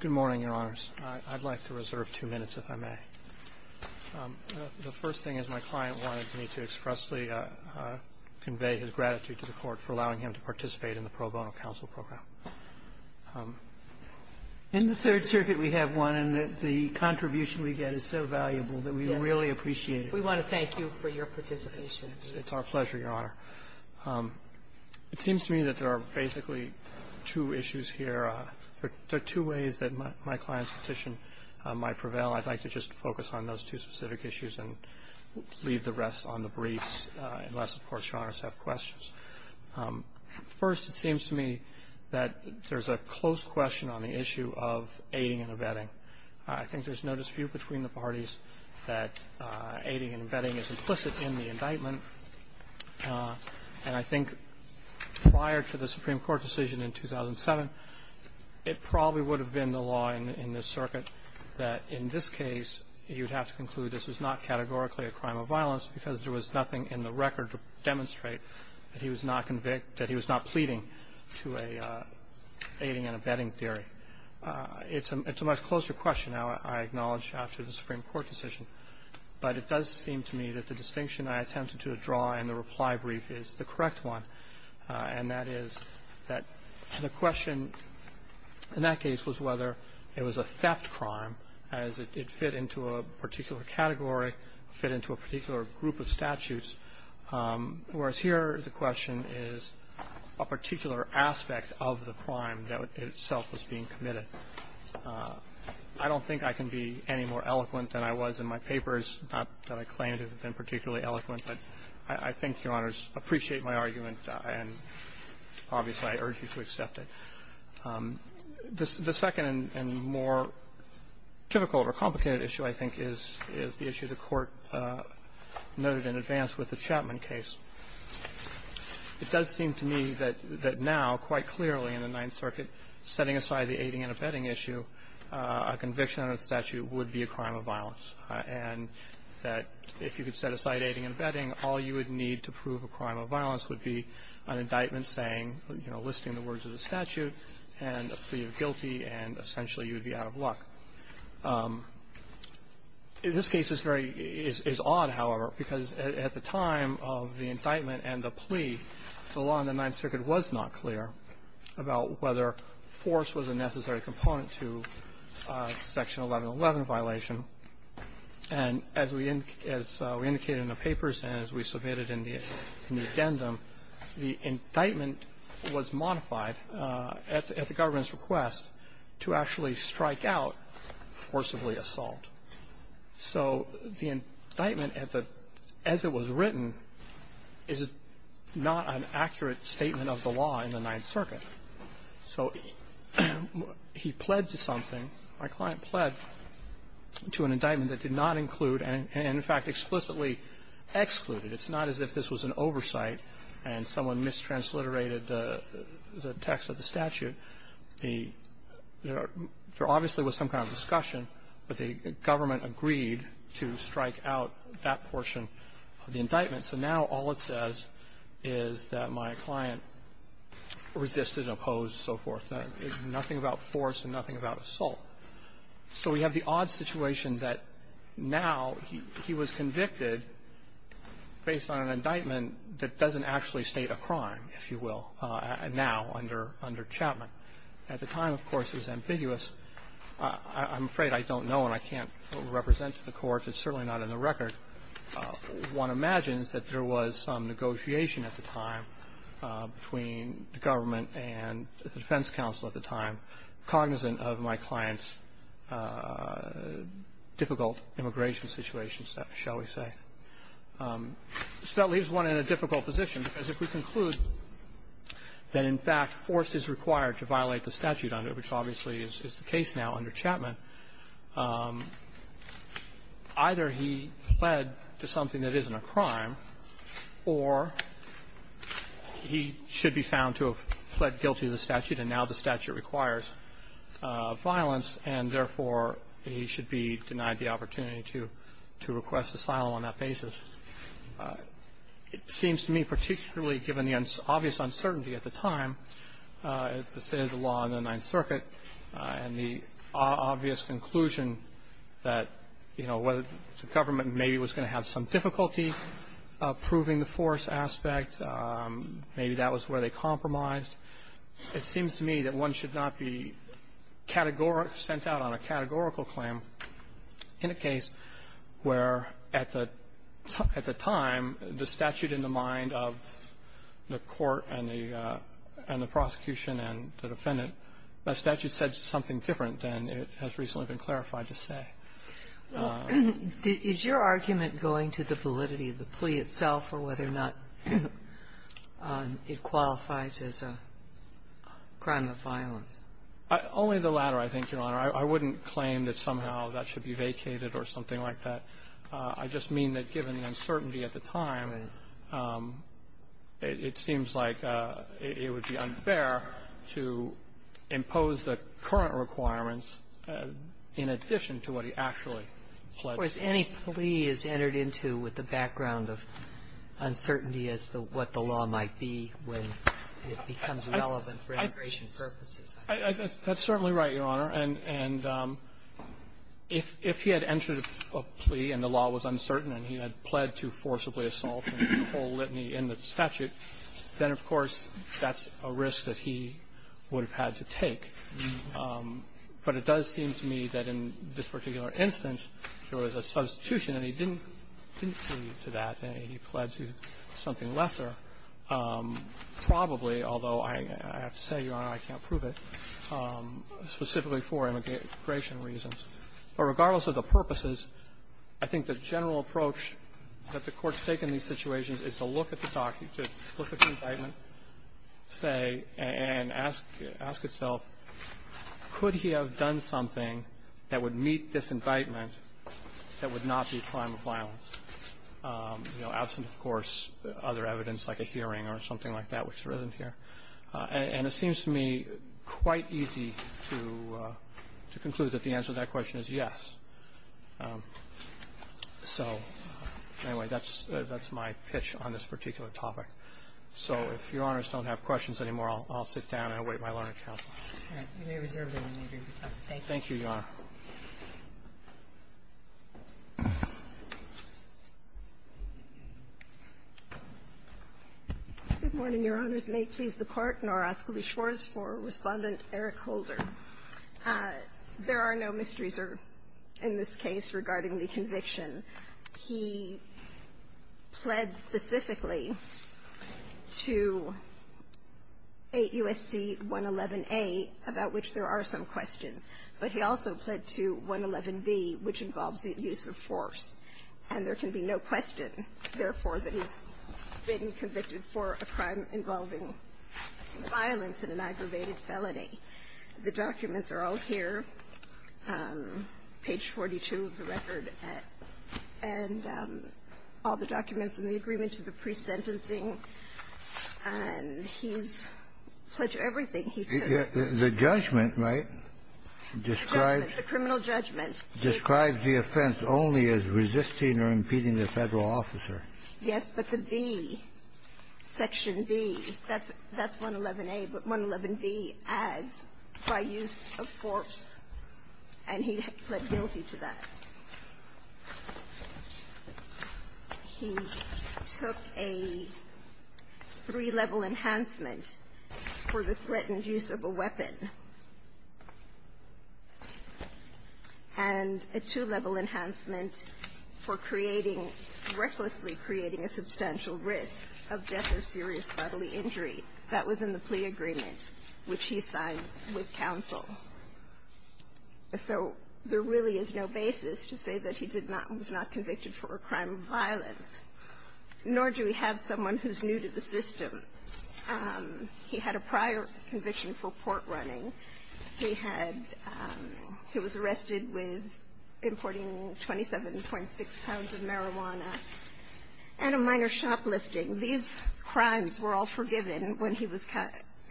Good morning, Your Honors. I'd like to reserve two minutes, if I may. The first thing is my client wanted me to expressly convey his gratitude to the Court for allowing him to participate in the pro bono counsel program. In the Third Circuit, we have one, and the contribution we get is so valuable that we really appreciate it. We want to thank you for your participation. It's our pleasure, Your Honor. It seems to me that there are basically two issues here. There are two ways that my client's petition might prevail. I'd like to just focus on those two specific issues and leave the rest on the briefs, unless, of course, Your Honors have questions. First, it seems to me that there's a close question on the issue of aiding and abetting. I think there's no dispute between the parties that aiding and abetting is implicit in the indictment. And I think prior to the Supreme Court decision in 2007, it probably would have been the law in this circuit that in this case, you'd have to conclude this was not categorically a crime of violence because there was nothing in the record to demonstrate that he was not convicted, that he was not pleading to aiding and abetting theory. It's a much closer question, I acknowledge, after the Supreme Court decision. But it does seem to me that the distinction I attempted to draw in the reply brief is the correct one, and that is that the question in that case was whether it was a theft crime, as it fit into a particular category, fit into a particular group of statutes, whereas here the question is a particular aspect of the crime that itself was being committed. I don't think I can be any more eloquent than I was in my previous papers, not that I claim to have been particularly eloquent, but I think Your Honors appreciate my argument, and obviously, I urge you to accept it. The second and more typical or complicated issue, I think, is the issue the Court noted in advance with the Chapman case. It does seem to me that now, quite clearly, in the Ninth Circuit, setting aside the aiding and abetting issue, a conviction under the statute would be a crime of violence, and that if you could set aside aiding and abetting, all you would need to prove a crime of violence would be an indictment saying, you know, listing the words of the statute, and a plea of guilty, and essentially, you would be out of luck. In this case, it's very odd, however, because at the time of the indictment and the plea, the law in the Ninth Circuit was not clear about whether force was a necessary component to Section 1111 violation, and as we indicated in the papers and as we submitted in the addendum, the indictment was modified at the government's request to actually strike out forcibly assault. So the indictment as it was written is not an accurate statement of the law in the Ninth Circuit, so he pled to something. My client pled to an indictment that did not include and, in fact, explicitly excluded. It's not as if this was an oversight and someone mistransliterated the text of the statute. There obviously was some kind of discussion, but the government agreed to strike out that portion of the indictment. So now all it says is that my client resisted, opposed, so forth. There's nothing about force and nothing about assault. So we have the odd situation that now he was convicted based on an indictment that doesn't actually state a crime, if you will, now under Chapman. At the time, of course, it was ambiguous. I'm afraid I don't know, and I can't represent to the Court. It's certainly not in the record. One imagines that there was some negotiation at the time between the government and the defense counsel at the time, cognizant of my client's difficult immigration situation, shall we say. So that leaves one in a difficult position, because if we conclude that, in fact, force is required to violate the statute under it, which obviously is the case now under Chapman, either he pled to something that isn't a crime, or he should be found to have pled guilty to the statute, and now the statute requires violence, and, therefore, he should be denied the opportunity to request asylum on that basis. It seems to me, particularly given the obvious uncertainty at the time, as the State did the law in the Ninth Circuit, and the obvious conclusion that, you know, whether the government maybe was going to have some difficulty proving the force aspect, maybe that was where they compromised, it seems to me that one should not be categorical or sent out on a categorical claim in a case where, at the time, the statute in the mind of the court and the prosecution and the defendant, the statute said something different than it has recently been clarified to say. Is your argument going to the validity of the plea itself or whether or not it qualifies as a crime of violence? Only the latter, I think, Your Honor. I wouldn't claim that somehow that should be vacated or something like that. I just mean that, given the uncertainty at the time, it seems like it would be unfair to impose the current requirements in addition to what he actually pledged. Or is any plea is entered into with the background of uncertainty as to what the law might be when it becomes relevant for immigration purposes? That's certainly right, Your Honor. And if he had entered a plea and the law was uncertain and he had pled to forcibly assault and the whole litany in the statute, then, of course, that's a risk that he would have had to take. But it does seem to me that in this particular instance, there was a substitution and he didn't plead to that and he pled to something lesser, probably, although I have to say, Your Honor, I can't prove it, specifically for immigration reasons. But regardless of the purposes, I think the general approach that the Court's taken in these situations is to look at the indictment, say, and ask itself, could he have done something that would meet this indictment that would not be a crime of violence, you know, absent, of course, other evidence like a hearing or something like that, which there isn't here. And it seems to me quite easy to conclude that the answer to that question is yes. So, anyway, that's my pitch on this particular topic. So if Your Honors don't have questions anymore, I'll sit down and await my learning counsel. All right. You may reserve the remainder of your time. Thank you. Thank you, Your Honor. Good morning, Your Honors. May it please the Court, nor ask that we shores for Respondent Eric Holder. There are no mysteries in this case regarding the conviction. He pled specifically to 8 U.S.C. 111a, about which there are some questions. But he also pled to 111b, which involves the use of force. And there can be no question, therefore, that he's been convicted for a crime involving violence in an aggravated felony. The documents are all here, page 42 of the record, and all the documents in the agreement to the pre-sentencing. And he's pled to everything he could. The judgment, right, describes the offense only as resisting or impeding the Federal officer. Yes, but the B, section B, that's 111a, but 111b adds by use of force, and he pled guilty to that. He took a three-level enhancement for the threatened use of a weapon, and a two-level enhancement for creating, recklessly creating, a substantial risk of death or serious bodily injury. That was in the plea agreement, which he signed with counsel. So there really is no basis to say that he did not or was not convicted for a crime of violence, nor do we have someone who's new to the system. He had a prior conviction for port running. He had he was arrested with importing 27.6 pounds of marijuana and a minor shoplifting. These crimes were all forgiven when he was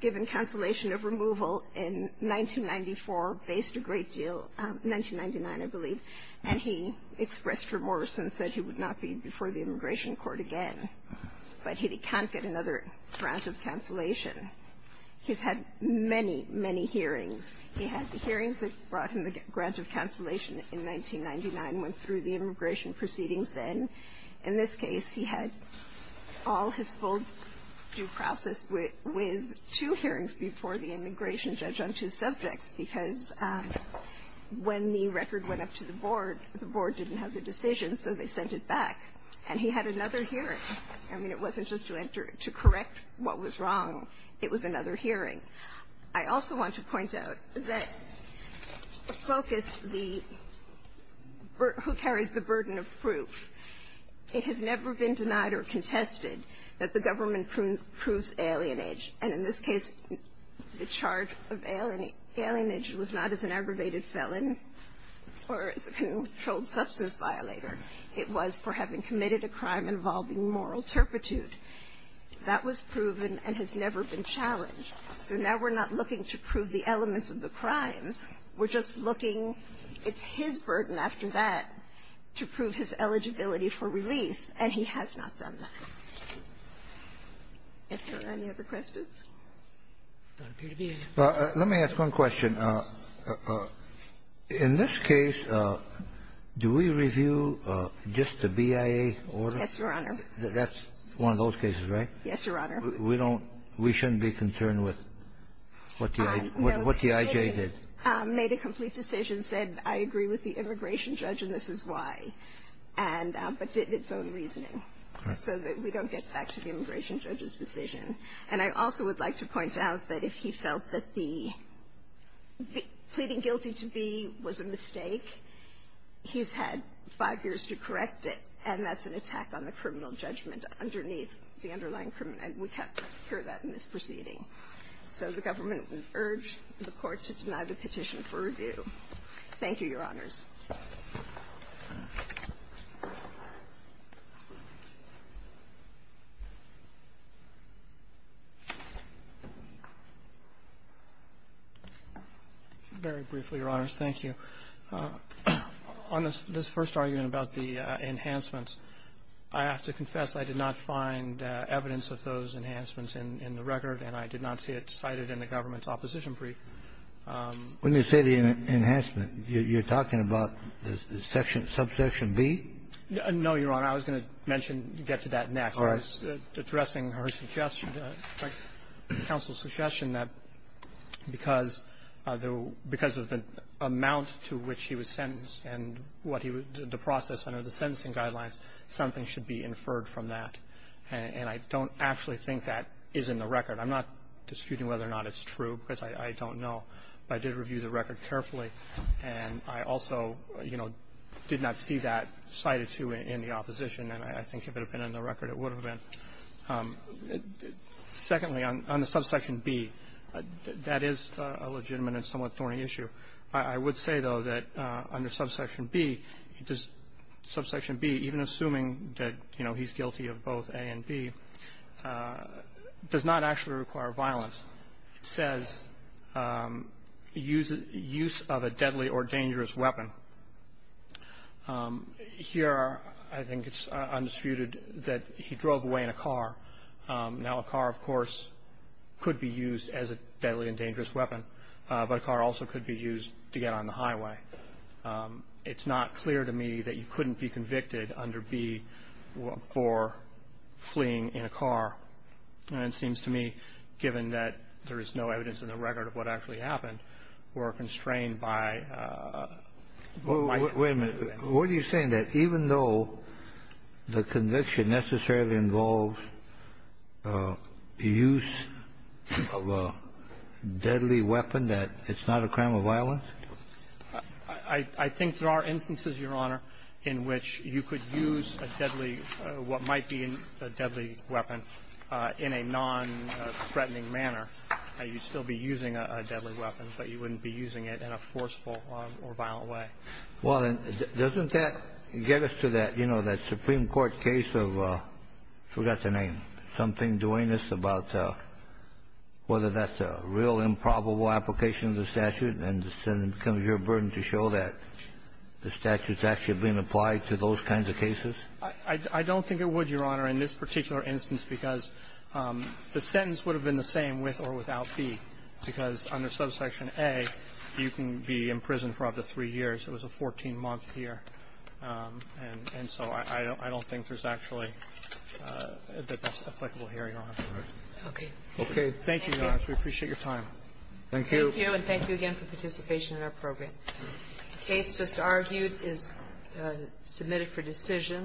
given cancellation of removal in 1994, faced a great deal, 1999, I believe. And he expressed remorse and said he would not be before the immigration court again. But he can't get another grant of cancellation. He's had many, many hearings. He had the hearings that brought him the grant of cancellation in 1999, went through the immigration proceedings then. In this case, he had all his full due process with two hearings before the immigration judge on two subjects, because when the record went up to the board, the board didn't have the decision, so they sent it back. And he had another hearing. I mean, it wasn't just to enter to correct what was wrong. It was another hearing. I also want to point out that the focus, the who carries the burden of proof, it has never been denied or contested that the government proves alienage. And in this case, the charge of alienage was not as an aggravated felon or as a controlled substance violator. It was for having committed a crime involving moral turpitude. That was proven and has never been challenged. So now we're not looking to prove the elements of the crimes. We're just looking, it's his burden after that to prove his eligibility for relief, and he has not done that. Are there any other questions? Let me ask one question. In this case, do we review just the BIA order? Yes, Your Honor. That's one of those cases, right? Yes, Your Honor. We don't. We shouldn't be concerned with what the IJ did. No, the IJ made a complete decision, said, I agree with the immigration judge and this is why, and but did its own reasoning so that we don't get back to the immigration judge's decision. And I also would like to point out that if he felt that the pleading guilty to B was a mistake, he's had five years to correct it, and that's an attack on the criminal And we have heard that in this proceeding. So the government would urge the Court to deny the petition for review. Thank you, Your Honors. Very briefly, Your Honors. Thank you. On this first argument about the enhancements, I have to confess I did not find evidence of those enhancements in the record, and I did not see it cited in the government's opposition brief. When you say the enhancement, you're talking about the section, subsection B? No, Your Honor. I was going to mention, get to that next. All right. I was addressing her suggestion, counsel's suggestion that because of the amount to which he was sentenced and what he was the process under the sentencing guidelines, something should be inferred from that. And I don't actually think that is in the record. I'm not disputing whether or not it's true, because I don't know. But I did review the record carefully, and I also, you know, did not see that cited to in the opposition. And I think if it had been in the record, it would have been. Secondly, on the subsection B, that is a legitimate and somewhat thorny issue. I would say, though, that under subsection B, does subsection B, even assuming that, you know, he's guilty of both A and B, does not actually require violence. It says use of a deadly or dangerous weapon. Here, I think it's undisputed that he drove away in a car. Now, a car, of course, could be used as a deadly and dangerous weapon, but a car also could be used to get on the highway. It's not clear to me that you couldn't be convicted under B for fleeing in a car. And it seems to me, given that there is no evidence in the record of what actually happened, we're constrained by my conviction. Wait a minute. What are you saying? That even though the conviction necessarily involves the use of a deadly weapon, that it's not a crime of violence? I think there are instances, Your Honor, in which you could use a deadly or what might be a deadly weapon in a nonthreatening manner. You'd still be using a deadly weapon, but you wouldn't be using it in a forceful or violent way. Well, then, doesn't that get us to that, you know, that Supreme Court case of — I don't think it would, Your Honor, in this particular instance, because the sentence would have been the same with or without B, because under Subsection A, you can be in prison for up to three years. It was a 14-month year. And so I don't think there's actually a bit that's applicable here, Your Honor. Okay. Okay. Thank you, Your Honor. We appreciate your time. Thank you. Thank you, and thank you again for participation in our program. The case just argued is submitted for decision.